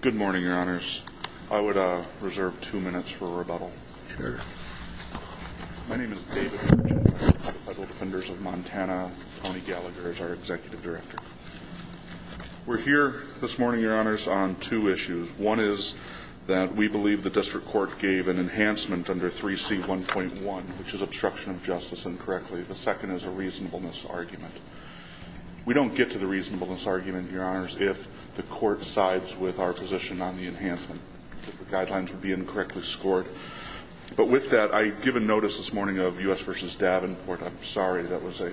Good morning, your honors. I would reserve two minutes for rebuttal. My name is David Virginia. I'm with the Federal Defenders of Montana. Tony Gallagher is our executive director. We're here this morning, your honors, on two issues. One is that we believe the district court gave an enhancement under 3C1.1, which is obstruction of justice incorrectly. The We don't get to the reasonableness argument, your honors, if the court sides with our position on the enhancement, if the guidelines would be incorrectly scored. But with that, I give a notice this morning of U.S. v. Davenport. I'm sorry. That was a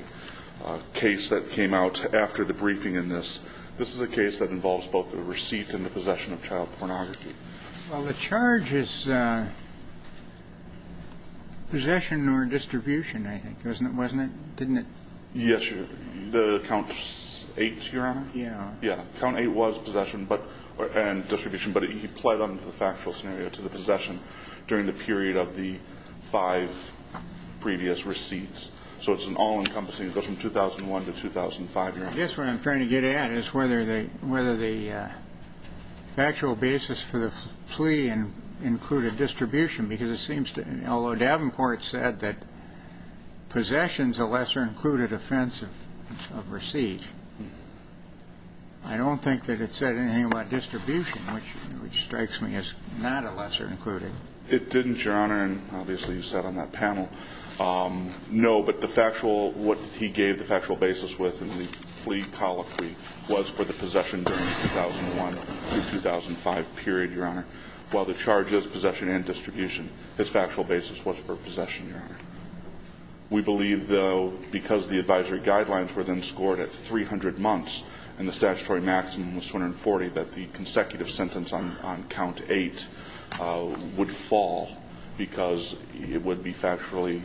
case that came out after the briefing in this. This is a case that involves both the receipt and the possession of child pornography. Well, the charge is possession or distribution, I think, wasn't it? Didn't it? Yes, your honor. The count eight, your honor? Yeah. Yeah. Count eight was possession and distribution, but he pled under the factual scenario to the possession during the period of the five previous receipts. So it's an all-encompassing from 2001 to 2005, your honor. I guess what I'm trying to get at is whether the factual basis for the plea included distribution, because it seems to me, although Davenport said that possession is a lesser included offense of receipt, I don't think that it said anything about distribution, which strikes me as not a lesser included. It didn't, your honor, and obviously you said on that panel. No, but the factual, what he gave the factual basis with in the plea colloquy was for the possession during the 2001 to 2005 period. His factual basis was for possession, your honor. We believe, though, because the advisory guidelines were then scored at 300 months and the statutory maximum was 240, that the consecutive sentence on count eight would fall because it would be factually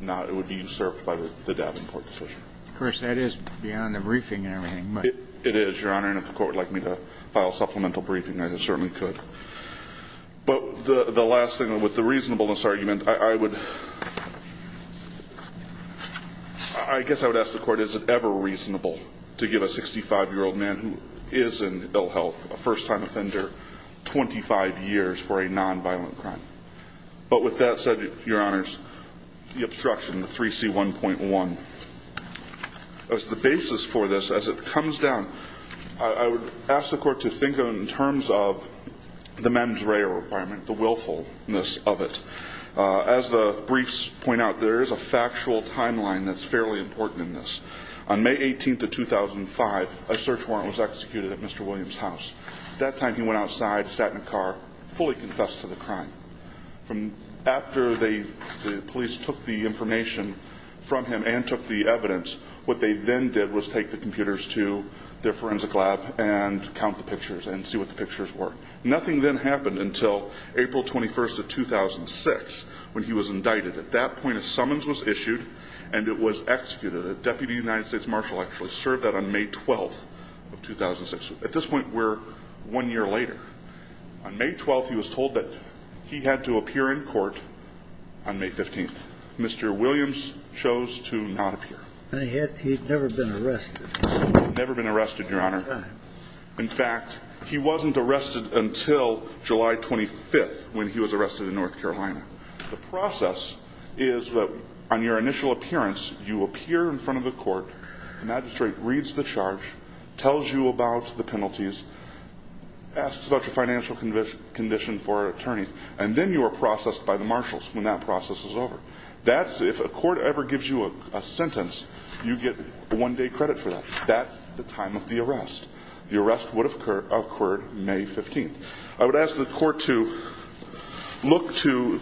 not, it would be usurped by the Davenport decision. Of course, that is beyond the briefing and everything, but. It is, your honor, and if the court would like me to file a supplemental briefing, I certainly could. But the last thing, with the reasonableness argument, I would, I guess I would ask the court, is it ever reasonable to give a 65-year-old man who is in ill health, a first-time offender, 25 years for a nonviolent crime? But with that said, your honors, the obstruction, the 3C1.1, as the basis for this, as it comes down, I would ask the court to think in terms of the mens rea requirement, the willfulness of it. As the briefs point out, there is a factual timeline that's fairly important in this. On May 18th of 2005, a search warrant was executed at Mr. Williams' house. At that time, he went outside, sat in a car, fully confessed to the crime. After the police took the information from him and took the evidence, what they then did was take the computers to the forensic lab and count the pictures and see what the pictures were. Nothing then happened until April 21st of 2006, when he was indicted. At that point, a summons was issued, and it was executed. A deputy United States marshal actually served that on May 12th of 2006. At this point, we're one year later. On May 12th, he was told that he had to appear in court on May 15th. Mr. Williams chose to not appear. And he had never been arrested. Never been arrested, Your Honor. In fact, he wasn't arrested until July 25th, when he was arrested in North Carolina. The process is that on your initial appearance, you appear in front of the court, the magistrate reads the charge, tells you about the penalties, asks about your financial condition for an attorney, and then you are processed by the marshals when that process is over. That's if a court ever gives you a sentence, you get one day credit for that. That's the time of the arrest. The arrest would have occurred May 15th. I would ask the court to look to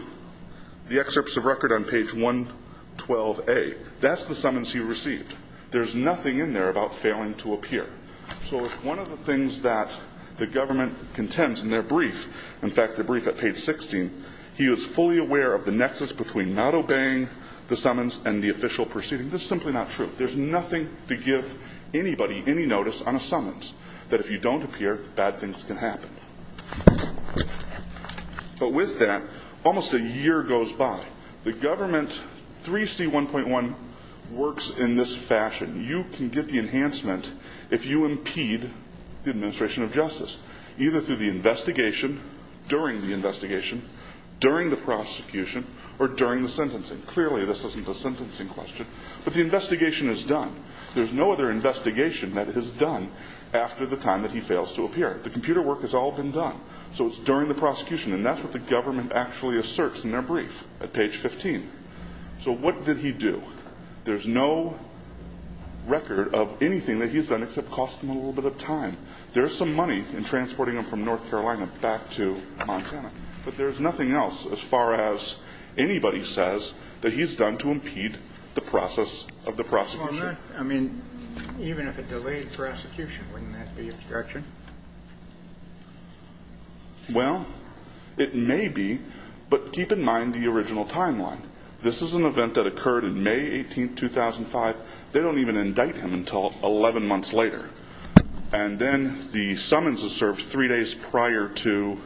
the excerpts of record on page 112A. That's the summons he received. There's nothing in there about failing to appear. So if one of the things that the government contends in their brief, in fact, the brief at page 16, he was fully aware of the nexus between not obeying the summons and the official proceeding. This is simply not true. There's nothing to give anybody any notice on a summons that if you don't appear, bad things can happen. But with that, almost a year goes by. The government, 3C1.1, works in this fashion. You can get the enhancement if you impede the administration of justice, either through the investigation, during the investigation, during the prosecution, or during the sentencing. Clearly this isn't a sentencing question. But the investigation is done. There's no other investigation that is done after the time that he fails to appear. The computer work has all been done. So it's during the prosecution. And that's what the government actually asserts in their brief at page 15. So what did he do? There's no record of anything that he's done except cost him a little bit of time. There's some money in transporting him from North Carolina back to Montana. But there's nothing else as far as anybody says that he's done to impede the process of the prosecution. I mean, even if it delayed prosecution, wouldn't that be obstruction? Well, it may be. But keep in mind the original timeline. This is an event that occurred in the early days of the trial. And then the summons is served three days prior to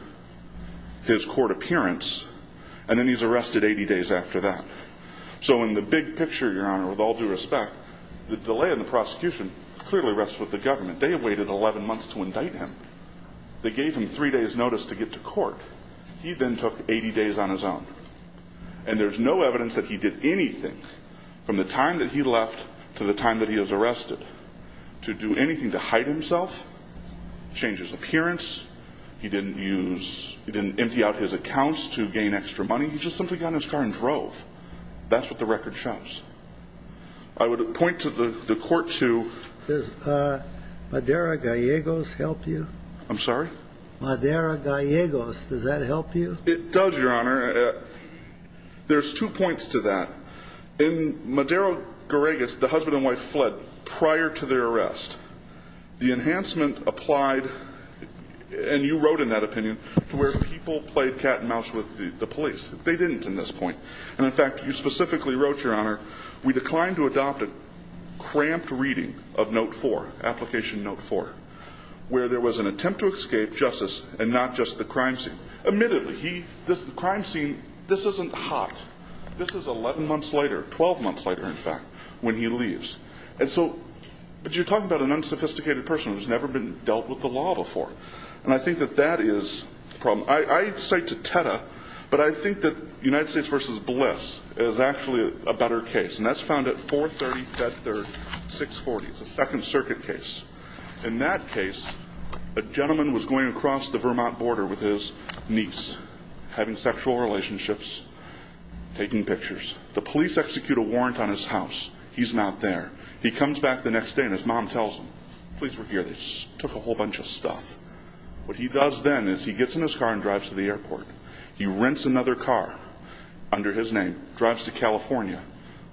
his court appearance. And then he's arrested 80 days after that. So in the big picture, Your Honor, with all due respect, the delay in the prosecution clearly rests with the government. They waited 11 months to indict him. They gave him three days' notice to get to court. He then took 80 days on his own. And there's no evidence that he did anything from the time that he left to the time that he was arrested to do anything to hide himself, change his appearance. He didn't use, he didn't empty out his accounts to gain extra money. He just simply got in his car and drove. That's what the record shows. I would point to the court to... Does Madera-Gallegos help you? I'm sorry? Madera-Gallegos, does that help you? It does, Your Honor. There's two points to that. In Madera-Gallegos, the husband and wife, prior to their arrest, the enhancement applied, and you wrote in that opinion, where people played cat and mouse with the police. They didn't in this point. And in fact, you specifically wrote, Your Honor, we declined to adopt a cramped reading of Note 4, Application Note 4, where there was an attempt to escape justice and not just the crime scene. Admittedly, he, the crime scene, this isn't hot. This is 11 months later, 12 months later, in fact, when he leaves. And so, but you're talking about an unsophisticated person who's never been dealt with the law before. And I think that that is the problem. I cite Teta, but I think that United States v. Bliss is actually a better case, and that's found at 430 Bedford, 640. It's a Second Circuit case. In that case, a gentleman was going across the Vermont border with his niece, having sexual relationships, taking pictures. The man leaves his house. He's not there. He comes back the next day, and his mom tells him, Please work here. They took a whole bunch of stuff. What he does then is he gets in his car and drives to the airport. He rents another car under his name, drives to California,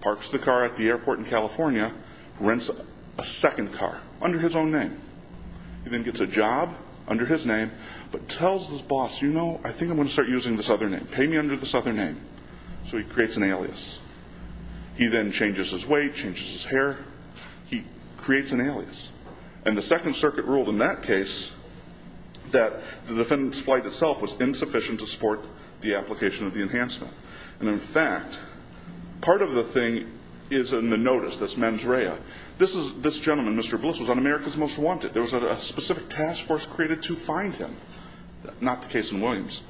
parks the car at the airport in California, rents a second car under his own name. He then gets a job under his name, but tells his boss, You know, I think I'm going to start using this other name. Pay me under this other name. So he creates an alias. He then changes his weight, changes his hair. He creates an alias. And the Second Circuit ruled in that case that the defendant's flight itself was insufficient to support the application of the enhancement. And in fact, part of the thing is in the notice, this mens rea. This gentleman, Mr. Bliss, was on America's Most Wanted. There was a specific task force created to find him. Not the case in Williams.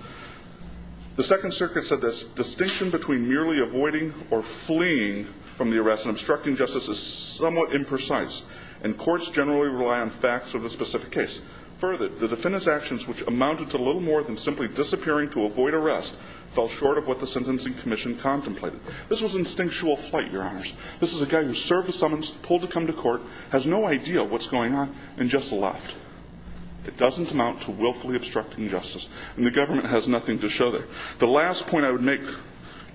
The Second Circuit said this distinction between merely avoiding or fleeing from the arrest and obstructing justice is somewhat imprecise. And courts generally rely on facts of the specific case. Further, the defendant's actions, which amounted to little more than simply disappearing to avoid arrest, fell short of what the Sentencing Commission contemplated. This was instinctual flight, Your Honors. This is a guy who served a summons, pulled to come to court, has no idea what's going on, and just left. It doesn't amount to willfully obstructing justice. And the government has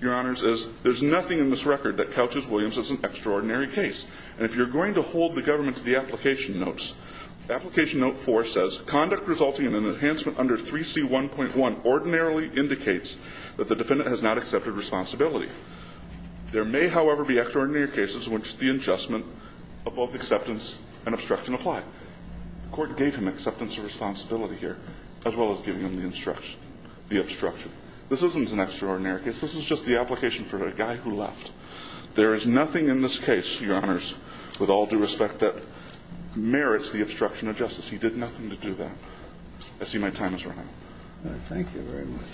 Your Honors, as there's nothing in this record that couches Williams as an extraordinary case. And if you're going to hold the government to the application notes, application note 4 says, Conduct resulting in an enhancement under 3C1.1 ordinarily indicates that the defendant has not accepted responsibility. There may, however, be extraordinary cases in which the adjustment of both acceptance and obstruction apply. The Court gave him acceptance of responsibility here, as well as giving him the instruction, the obstruction. This isn't an extraordinary case. This is just the application for the guy who left. There is nothing in this case, Your Honors, with all due respect, that merits the obstruction of justice. He did nothing to do that. I see my time is running out. Thank you very much.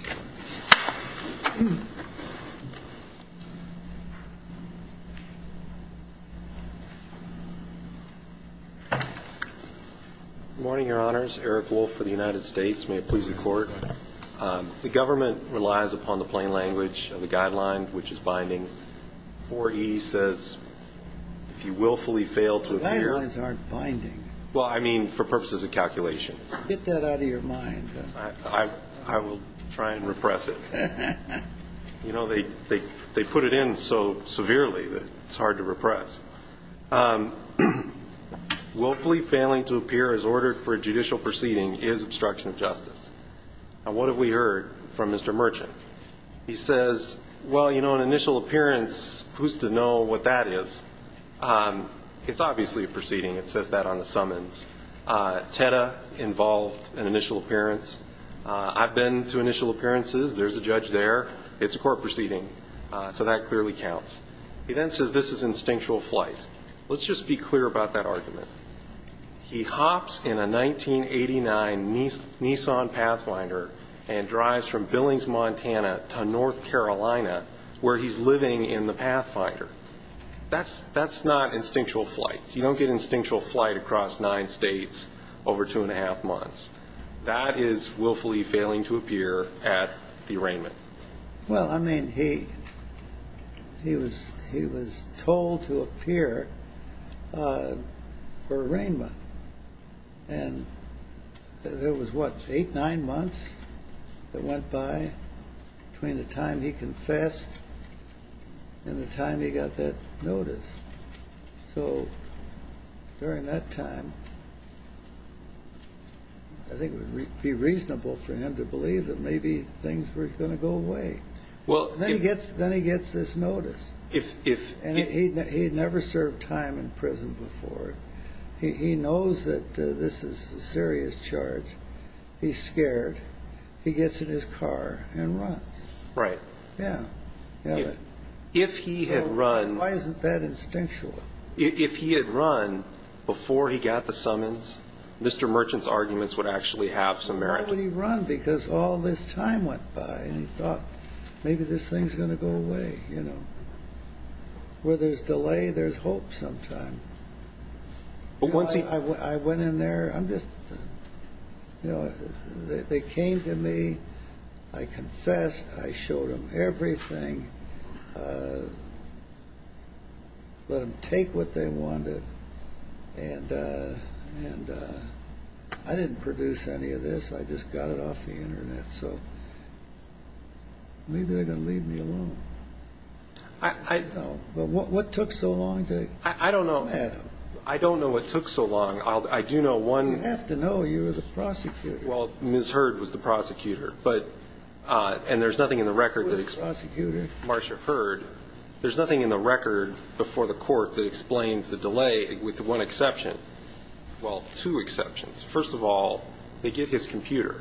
Good morning, Your Honors. Eric Wolfe for the United States. May it please the Court. The government relies upon the plain language of the guidelines, which is binding. 4E says, if you willfully fail to appear The guidelines aren't binding. Well, I mean, for purposes of calculation. Get that out of your mind. I will try and repress it. You know, they put it in so severely that it's hard to repress. Willfully failing to appear as ordered for a judicial proceeding is obstruction of justice. Now, what have we heard from Mr. Merchant? He says, well, you know, an initial appearance, who's to know what that is? It's obviously a proceeding. It says that on the summons. TEDA involved an initial appearance. I've been to initial appearances. There's a judge there. It's a court proceeding, so that clearly counts. He then says this is instinctual flight. Let's just be clear about that argument. He hops in a 1989 Nissan Pathfinder and drives from Billings, Montana to North Carolina, where he's living in the Pathfinder. That's not instinctual flight. You don't get instinctual flight across nine states over two and a half months. That is willfully failing to appear at the arraignment. Well, I mean, he was told to appear for arraignment. And there was, what, eight, nine months that went by between the time he confessed and the time he got that notice. So during that time, I think it would be reasonable for him to believe that maybe things were going to go away. Well, then he gets this notice. And he'd never served time in prison before. He knows that this is a serious charge. He's scared. He gets in his car and runs. Right. Yeah. If he had run... Why isn't that instinctual? If he had run before he got the summons, Mr. Merchant's arguments would actually have some merit. Why would he run? Because all this time went by and he thought, maybe this thing's going to go away, you know. Where there's delay, there's hope sometime. But once he... I went in there. I'm just, you know, they came to me. I confessed. I showed them everything. I let them take what they wanted. And I didn't produce any of this. I just got it off the internet. So maybe they're going to leave me alone. I don't know. But what took so long to... I don't know. I don't know what took so long. I do know one... You have to know you were the prosecutor. Well, Ms. Hurd was the prosecutor. And there's nothing in the record that... Marsha Hurd, there's nothing in the record before the court that explains the delay, with one exception. Well, two exceptions. First of all, they get his computer.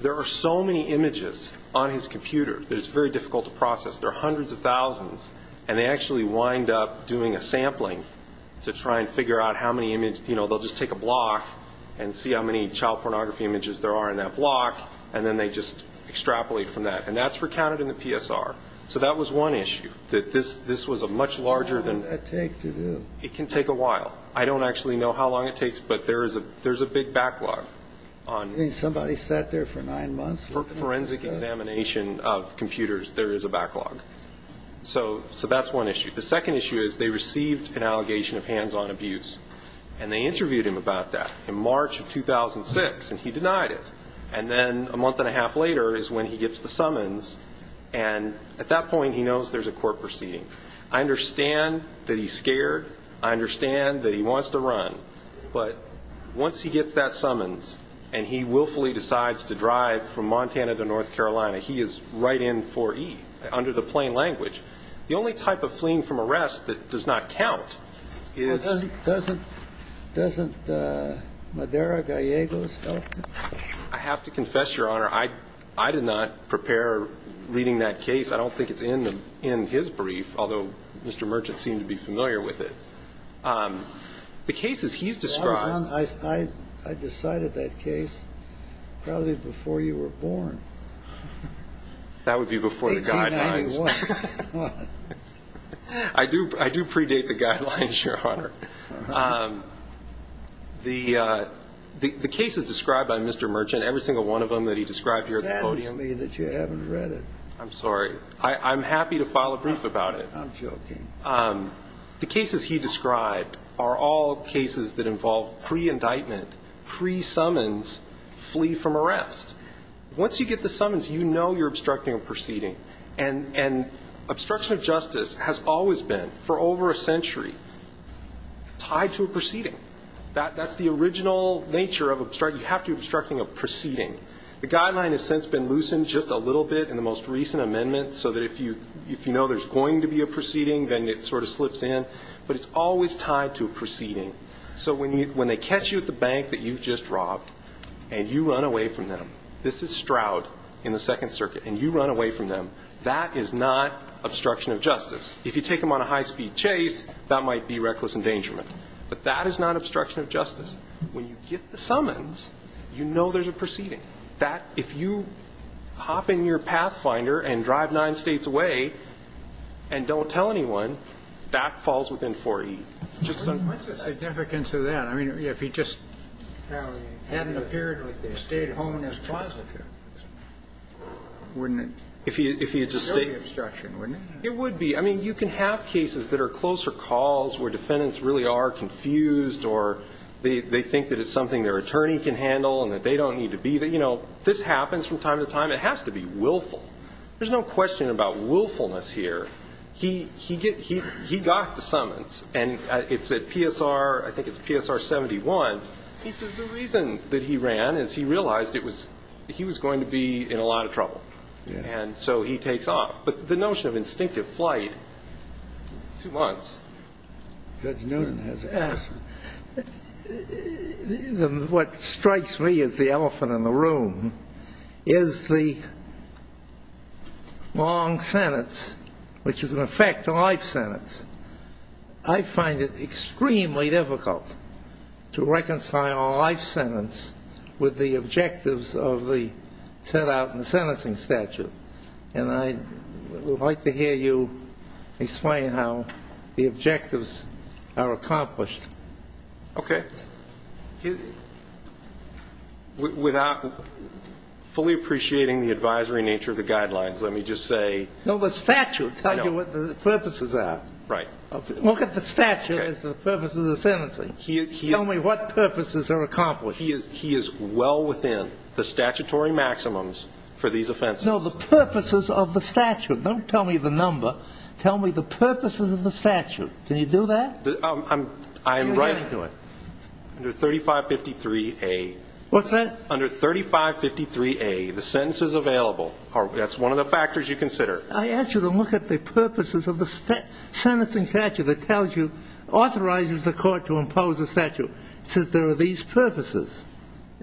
There are so many images on his computer that it's very difficult to process. There are hundreds of thousands. And they actually wind up doing a sampling to try and figure out how many images... You know, they'll just take a block and see how many child pornography images there are in that block. And then they just extrapolate from that. And that's recounted in the PSR. So that was one issue, that this was a much larger than... How long did that take to do? It can take a while. I don't actually know how long it takes, but there's a big backlog on... I mean, somebody sat there for nine months... For forensic examination of computers, there is a backlog. So that's one issue. The second issue is they received an allegation of hands-on abuse. And they interviewed him about that in March of 2006, and he denied it. And then a month and a half later is when he gets the summons. And at that point, he knows there's a court proceeding. I understand that he's scared. I understand that he wants to run. But once he gets that summons, and he willfully decides to drive from Montana to North Carolina, he is right in for E, under the plain language. The only type of fleeing from arrest that does not count is... I have to confess, Your Honor, I did not prepare reading that case. I don't think it's in his brief, although Mr. Merchant seemed to be familiar with it. The cases he's described... I decided that case probably before you were born. That would be before the guidelines. I do predate the guidelines, Your Honor. The cases described by Mr. Merchant, every single one of them that he described here... You're saying to me that you haven't read it. I'm sorry. I'm happy to file a brief about it. I'm joking. The cases he described are all cases that involve pre-indictment, pre-summons, flee from arrest. Once you get the summons, you know you're obstructing a proceeding. And obstruction of justice has always been, for over a century, tied to a proceeding. That's the original nature of obstruction. You have to be obstructing a proceeding. The guideline has since been loosened just a little bit in the most recent amendment, so that if you know there's going to be a proceeding, then it sort of slips in. But it's always tied to a proceeding. So when they catch you at the bank that you've just robbed, and you run away from them... This is Stroud in the Second Circuit. And you run away from them. That is not obstruction of justice. If you take them on a high-speed chase, that might be reckless endangerment. But that is not obstruction of justice. When you get the summons, you know there's a proceeding. That, if you hop in your Pathfinder and drive nine states away and don't tell anyone, that falls within 4E. What's the significance of that? I mean, if he just hadn't appeared like they stayed home in this plaza, wouldn't it be obstruction? It would be. You can have cases that are closer calls, where defendants really are confused, or they think that it's something their attorney can handle and that they don't need to be. This happens from time to time. It has to be willful. There's no question about willfulness here. He got the summons. And it's at PSR, I think it's PSR 71. He said the reason that he ran is he realized he was going to be in a lot of trouble. And so he takes off. The notion of instinctive flight, two months. Judge Newton has a question. What strikes me as the elephant in the room is the long sentence, which is, in effect, a life sentence. I find it extremely difficult to reconcile a life sentence with the objectives of the set out in the sentencing statute. And I would like to hear you explain how the objectives are accomplished. Okay. Without fully appreciating the advisory nature of the guidelines, let me just say. No, the statute tells you what the purposes are. Right. Look at the statute as the purpose of the sentencing. Tell me what purposes are accomplished. He is well within the statutory maximums for these offenses. The purposes of the statute. Don't tell me the number. Tell me the purposes of the statute. Can you do that? I am right to it. Under 3553A. What's that? Under 3553A. The sentence is available. That's one of the factors you consider. I asked you to look at the purposes of the sentencing statute that tells you authorizes It says there are these purposes.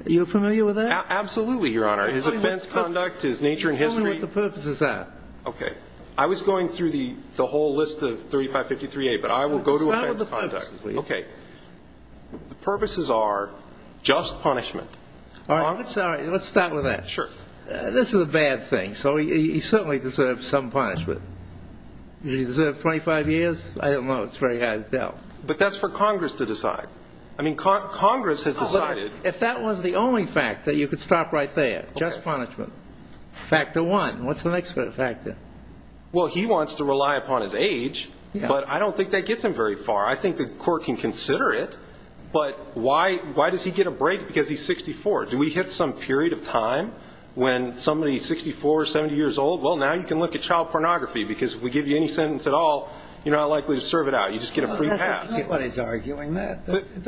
You're familiar with that? Absolutely, Your Honor. His offense conduct, his nature and history. Tell me what the purposes are. Okay. I was going through the whole list of 3553A, but I will go to offense conduct. Okay. The purposes are just punishment. All right. Let's start with that. Sure. This is a bad thing. So he certainly deserves some punishment. Does he deserve 25 years? I don't know. It's very hard to tell. But that's for Congress to decide. I mean, Congress has decided. If that was the only fact that you could stop right there. Just punishment. Factor one. What's the next factor? Well, he wants to rely upon his age, but I don't think that gets him very far. I think the court can consider it. But why does he get a break? Because he's 64. Do we hit some period of time when somebody is 64 or 70 years old? Well, now you can look at child pornography, because if we give you any sentence at all, you're not likely to serve it out. You just get a free pass. Nobody's arguing that.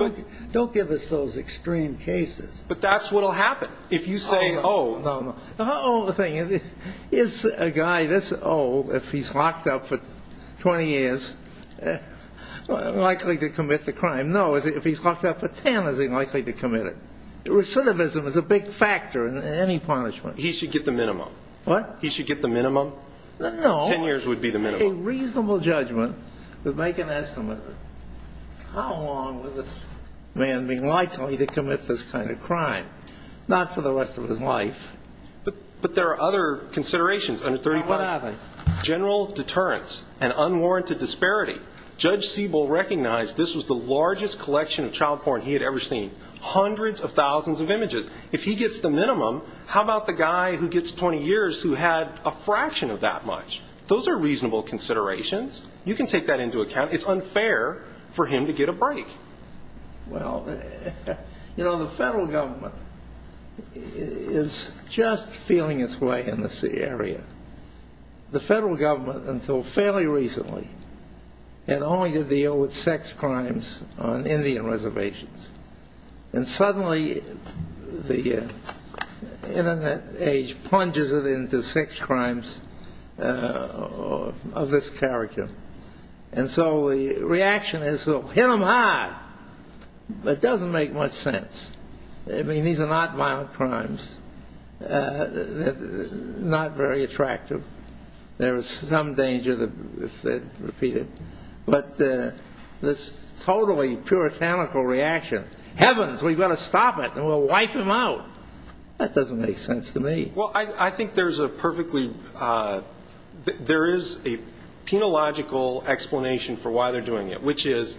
Don't give us those extreme cases. But that's what will happen. If you say, oh, no. Is a guy this old, if he's locked up for 20 years, likely to commit the crime? No. If he's locked up for 10, is he likely to commit it? Recidivism is a big factor in any punishment. He should get the minimum. What? He should get the minimum. 10 years would be the minimum. A reasonable judgment would make an estimate. How long would this man be likely to commit this kind of crime? Not for the rest of his life. But there are other considerations under 35. What are they? General deterrence and unwarranted disparity. Judge Siebel recognized this was the largest collection of child porn he had ever seen. Hundreds of thousands of images. If he gets the minimum, how about the guy who gets 20 years who had a fraction of that much? Those are reasonable considerations. You can take that into account. It's unfair for him to get a break. Well, you know, the federal government is just feeling its way in this area. The federal government, until fairly recently, had only to deal with sex crimes on Indian reservations. And suddenly, the internet age plunges it into sex crimes of this character. And so the reaction is, well, hit him hard. But it doesn't make much sense. I mean, these are not violent crimes. Not very attractive. There is some danger, if they repeat it. But this totally puritanical reaction, heavens, we've got to stop it, and we'll wipe him out. That doesn't make sense to me. Well, I think there is a penological explanation for why they're doing it, which is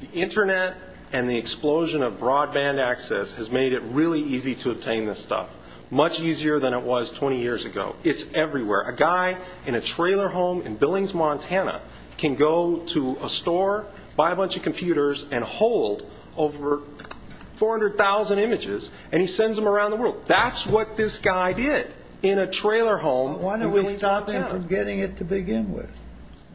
the internet and the explosion of broadband access has made it really easy to obtain this stuff. Much easier than it was 20 years ago. It's everywhere. A guy in a trailer home in Billings, Montana, can go to a store, buy a bunch of computers, and hold over 400,000 images, and he sends them around the world. That's what this guy did in a trailer home. Why don't we stop him from getting it to begin with?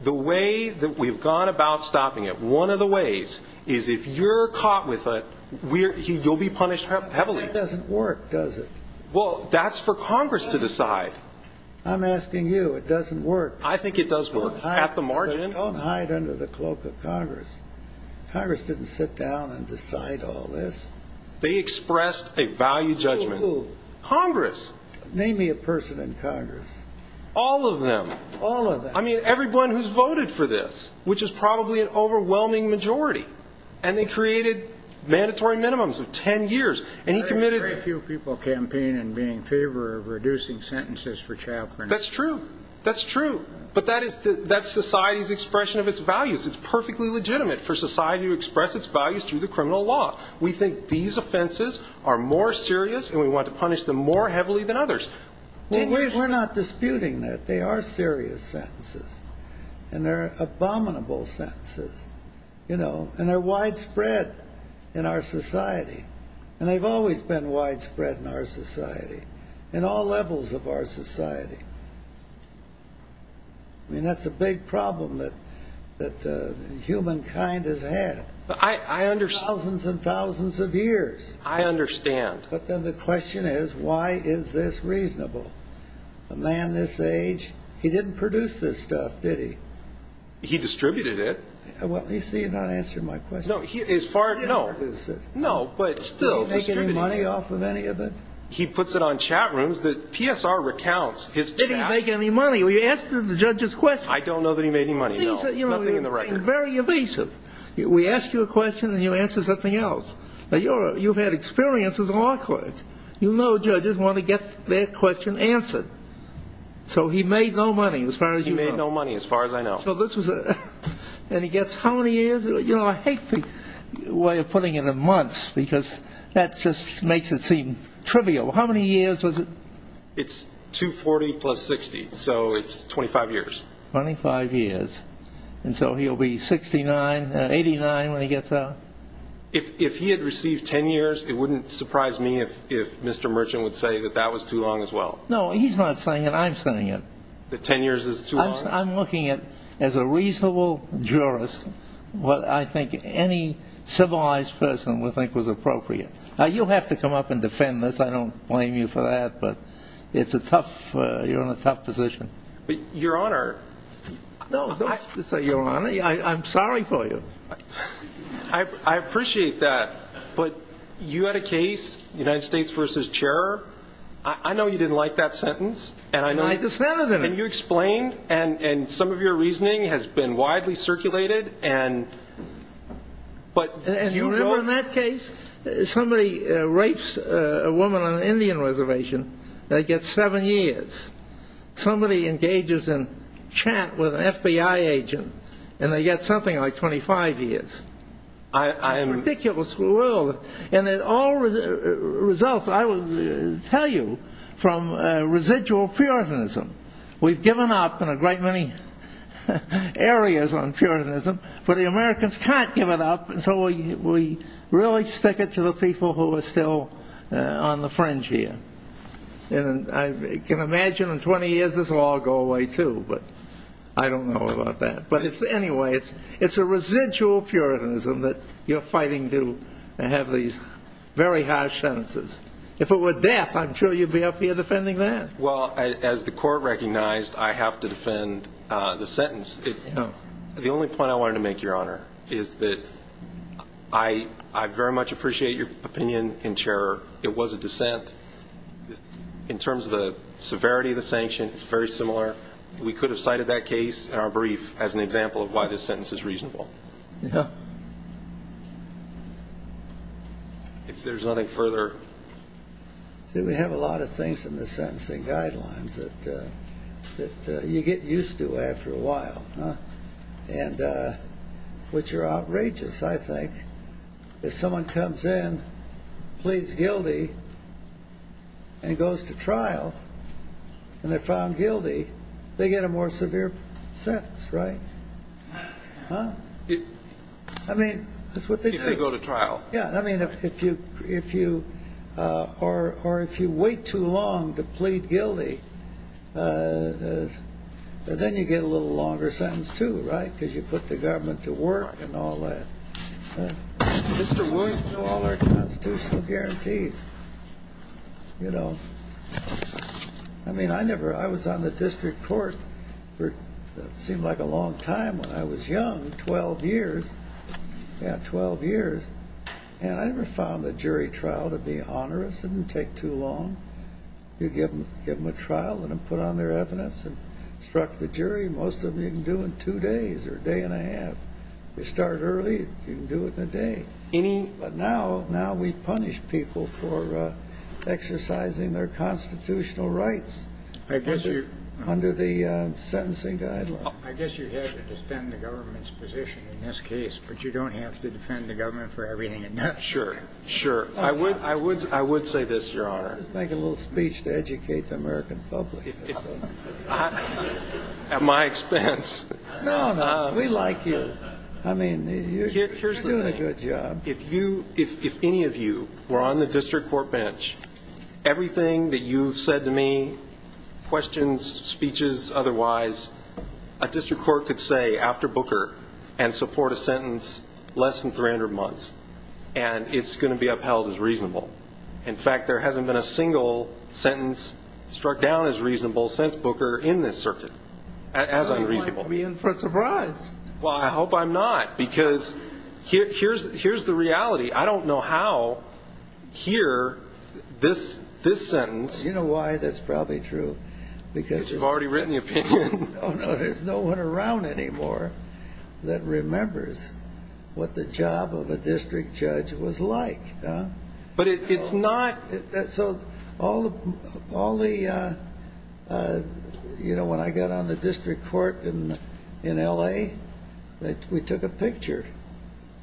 The way that we've gone about stopping it, one of the ways is if you're caught with it, you'll be punished heavily. That doesn't work, does it? Well, that's for Congress to decide. I'm asking you, it doesn't work. I think it does work. At the margin. Don't hide under the cloak of Congress. Congress didn't sit down and decide all this. They expressed a value judgment. Congress. Name me a person in Congress. All of them. All of them. I mean, everyone who's voted for this, which is probably an overwhelming majority. And they created mandatory minimums of 10 years. And he committed... Very few people campaign in being in favor of reducing sentences for child pornography. That's true. That's true. But that's society's expression of its values. It's perfectly legitimate for society to express its values through the criminal law. We think these offenses are more serious and we want to punish them more heavily than others. We're not disputing that. They are serious sentences. And they're abominable sentences. You know, and they're widespread in our society. And they've always been widespread in our society. In all levels of our society. I mean, that's a big problem that humankind has had. I understand. Thousands and thousands of years. I understand. But then the question is, why is this reasonable? A man this age, he didn't produce this stuff, did he? He distributed it. Well, you see, you're not answering my question. No, he is far... No, no, but still... Did he make any money off of any of it? He puts it on chat rooms that PSR recounts his... Did he make any money? Well, you asked the judge's question. I don't know that he made any money. No, nothing in the record. Very evasive. We ask you a question and you answer something else. But you've had experience as a law clerk. You know judges want to get their question answered. So he made no money, as far as you know. He made no money, as far as I know. So this was a... And he gets how many years? You know, I hate the way of putting it in months. Because that just makes it seem trivial. How many years was it? It's 240 plus 60. So it's 25 years. 25 years. And so he'll be 69, 89 when he gets out. If he had received 10 years, it wouldn't surprise me if Mr. Merchant would say that that was too long as well. No, he's not saying it. I'm saying it. That 10 years is too long? I'm looking at, as a reasonable jurist, what I think any civilized person would think was appropriate. Now, you'll have to come up and defend this. I don't blame you for that. But it's a tough... You're in a tough position. But your honor... No, don't say your honor. I'm sorry for you. I appreciate that. But you had a case, United States v. Chair. I know you didn't like that sentence. And I know... And I dissented in it. And you explained. And some of your reasoning has been widely circulated. And but... And you remember in that case, somebody rapes a woman on an Indian reservation. They get seven years. Somebody engages in chant with an FBI agent. And they get something like 25 years. I am... Ridiculous world. And it all results, I will tell you, from residual puritanism. We've given up in a great many areas on puritanism. But the Americans can't give it up. And so we really stick it to the people who are still on the fringe here. And I can imagine in 20 years, this will all go away too. But I don't know about that. But it's... Anyway, it's a residual puritanism that you're fighting to have these very harsh sentences. If it were death, I'm sure you'd be up here defending that. Well, as the court recognized, I have to defend the sentence. The only point I wanted to make, your honor, is that I very much appreciate your opinion. And Chair, it was a dissent. In terms of the severity of the sanction, it's very similar. We could have cited that case in our brief as an example of why this sentence is reasonable. If there's nothing further... See, we have a lot of things in the sentencing guidelines that you get used to after a while. And which are outrageous, I think. If someone comes in, pleads guilty, and goes to trial, and they're found guilty, they get a more severe sentence, right? I mean, that's what they do. If they go to trial. Yeah. I mean, if you wait too long to plead guilty, then you get a little longer sentence too, right? Because you put the government to work and all that. Mr. Wood? All our constitutional guarantees, you know. I mean, I never... I was on the district court for, it seemed like a long time when I was young, 12 years. Yeah, 12 years. And I never found the jury trial to be onerous. It didn't take too long. You give them a trial, let them put on their evidence, and instruct the jury. Most of them you can do in two days or a day and a half. You start early, you can do it in a day. Any... But now we punish people for exercising their constitutional rights under the sentencing guidelines. I guess you have to defend the government's position in this case, but you don't have to defend the government for everything it does. Sure. Sure. I would say this, Your Honor. I was making a little speech to educate the American public. At my expense. No, no. We like you. I mean, you're doing a good job. If any of you were on the district court bench, everything that you've said to me, questions, speeches, otherwise, a district court could say after Booker and support a sentence less than 300 months, and it's going to be upheld as reasonable. In fact, there hasn't been a single sentence struck down as reasonable since Booker in this circuit, as unreasonable. You might be in for a surprise. Well, I hope I'm not, because here's the reality. I don't know how here, this sentence... You know why that's probably true? Because you've already written the opinion. Oh, no. There's no one around anymore that remembers what the job of a district judge was like. But it's not... So when I got on the district court in L.A., we took a picture,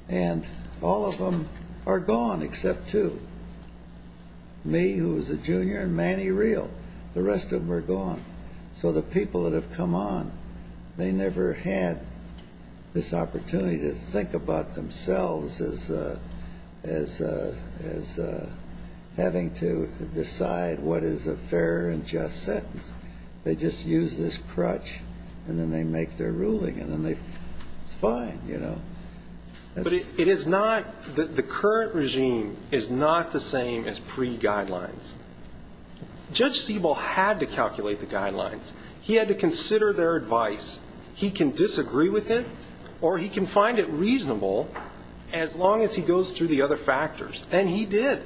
and all of them are gone except two. Me, who was a junior, and Manny Real. The rest of them are gone. So the people that have come on, they never had this opportunity to think about themselves as having to decide what is a fair and just sentence. They just use this crutch, and then they make their ruling, and then it's fine, you know? But it is not... The current regime is not the same as pre-guidelines. Judge Siebel had to calculate the guidelines. He had to consider their advice. He can disagree with it, or he can find it reasonable as long as he goes through the other factors. And he did.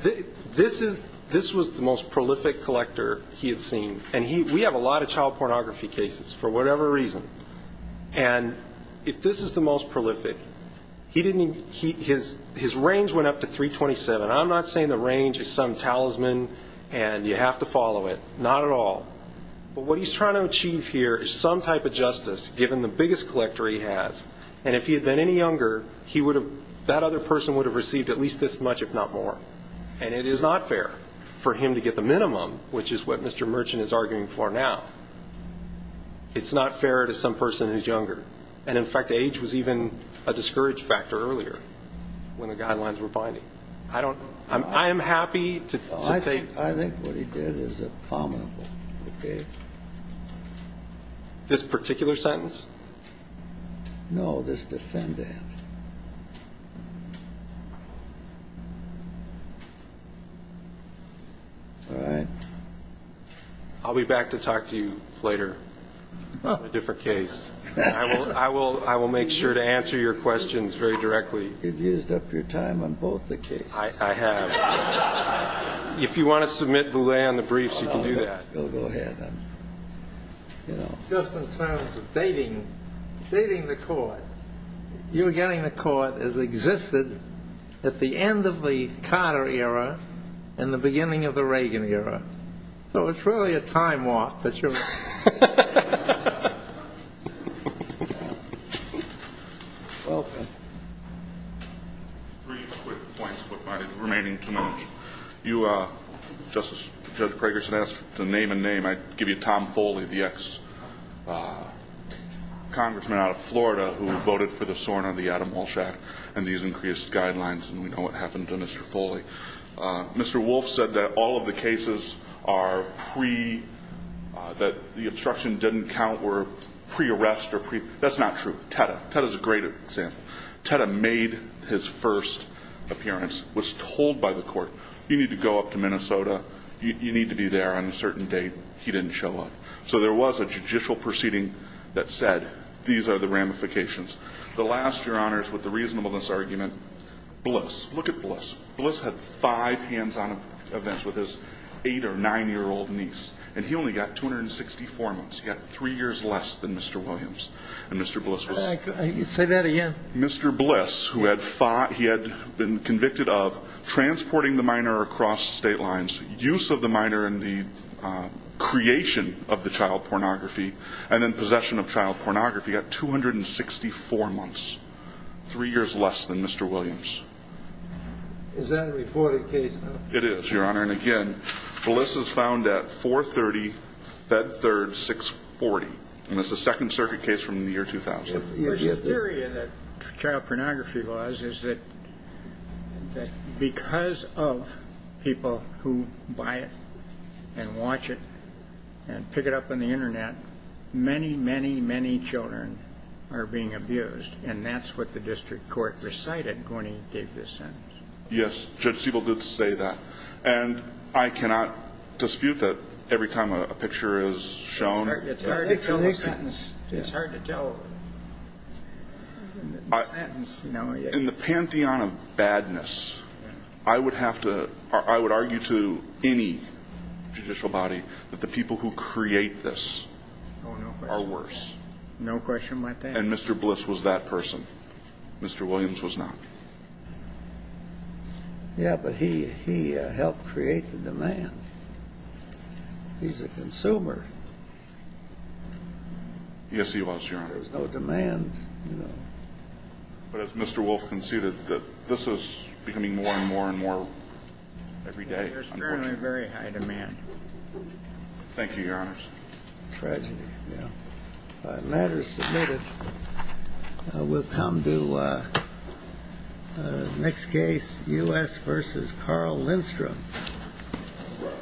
This was the most prolific collector he had seen. And we have a lot of child pornography cases, for whatever reason. And if this is the most prolific, his range went up to 327. I'm not saying the range is some talisman, and you have to follow it. Not at all. But what he's trying to achieve here is some type of justice, given the biggest collector he has. And if he had been any younger, he would have... That other person would have received at least this much, if not more. And it is not fair for him to get the minimum, which is what Mr. Merchant is arguing for now. It's not fair to some person who's younger. And in fact, age was even a discouraged factor earlier, when the guidelines were binding. I don't... I am happy to take... ...this particular sentence? No, this defendant. All right. I'll be back to talk to you later on a different case. I will make sure to answer your questions very directly. You've used up your time on both the cases. I have. If you want to submit Boulet on the briefs, you can do that. Go ahead. Just in terms of dating the court, you're getting the court as existed at the end of the Carter era and the beginning of the Reagan era. So it's really a time warp that you're... Welcome. Three quick points, if I may, remaining to mention. You, Justice Craigerson, asked to name a name. I give you Tom Foley, the ex-congressman out of Florida who voted for the SORNA, the Adam Walsh Act, and these increased guidelines. And we know what happened to Mr. Foley. Mr. Wolf said that all of the cases are pre... That the obstruction didn't count were pre-arrest or pre... That's not true. Teta. Teta is a great example. Teta made his first appearance. Was told by the court, you need to go up to Minnesota. You need to be there on a certain date. He didn't show up. So there was a judicial proceeding that said, these are the ramifications. The last, Your Honors, with the reasonableness argument, Bliss. Look at Bliss. Bliss had five hands-on events with his eight or nine-year-old niece. And he only got 264 months. He got three years less than Mr. Williams. And Mr. Bliss was... Say that again. Mr. Bliss, who had fought... He had been convicted of transporting the minor across state lines. Use of the minor in the creation of the child pornography. And then possession of child pornography. Got 264 months. Three years less than Mr. Williams. Is that a reported case? It is, Your Honor. And again, Bliss is found at 430, Fed Third, 640. And that's a Second Circuit case from the year 2000. But your theory of the child pornography laws is that because of people who buy it and watch it and pick it up on the internet, many, many, many children are being abused. And that's what the district court recited when he gave this sentence. Yes. Judge Siebel did say that. And I cannot dispute that every time a picture is shown... It's hard to tell a sentence. It's hard to tell a sentence. In the pantheon of badness, I would have to... I would argue to any judicial body that the people who create this are worse. No question like that. And Mr. Bliss was that person. Mr. Williams was not. He's a consumer. Yes, he was, Your Honor. There's no demand, you know. But as Mr. Wolf conceded, that this is becoming more and more and more every day. Yeah, there's currently very high demand. Thank you, Your Honors. Tragedy, yeah. Letters submitted. We'll come to the next case, U.S. v. Carl Lindstrom.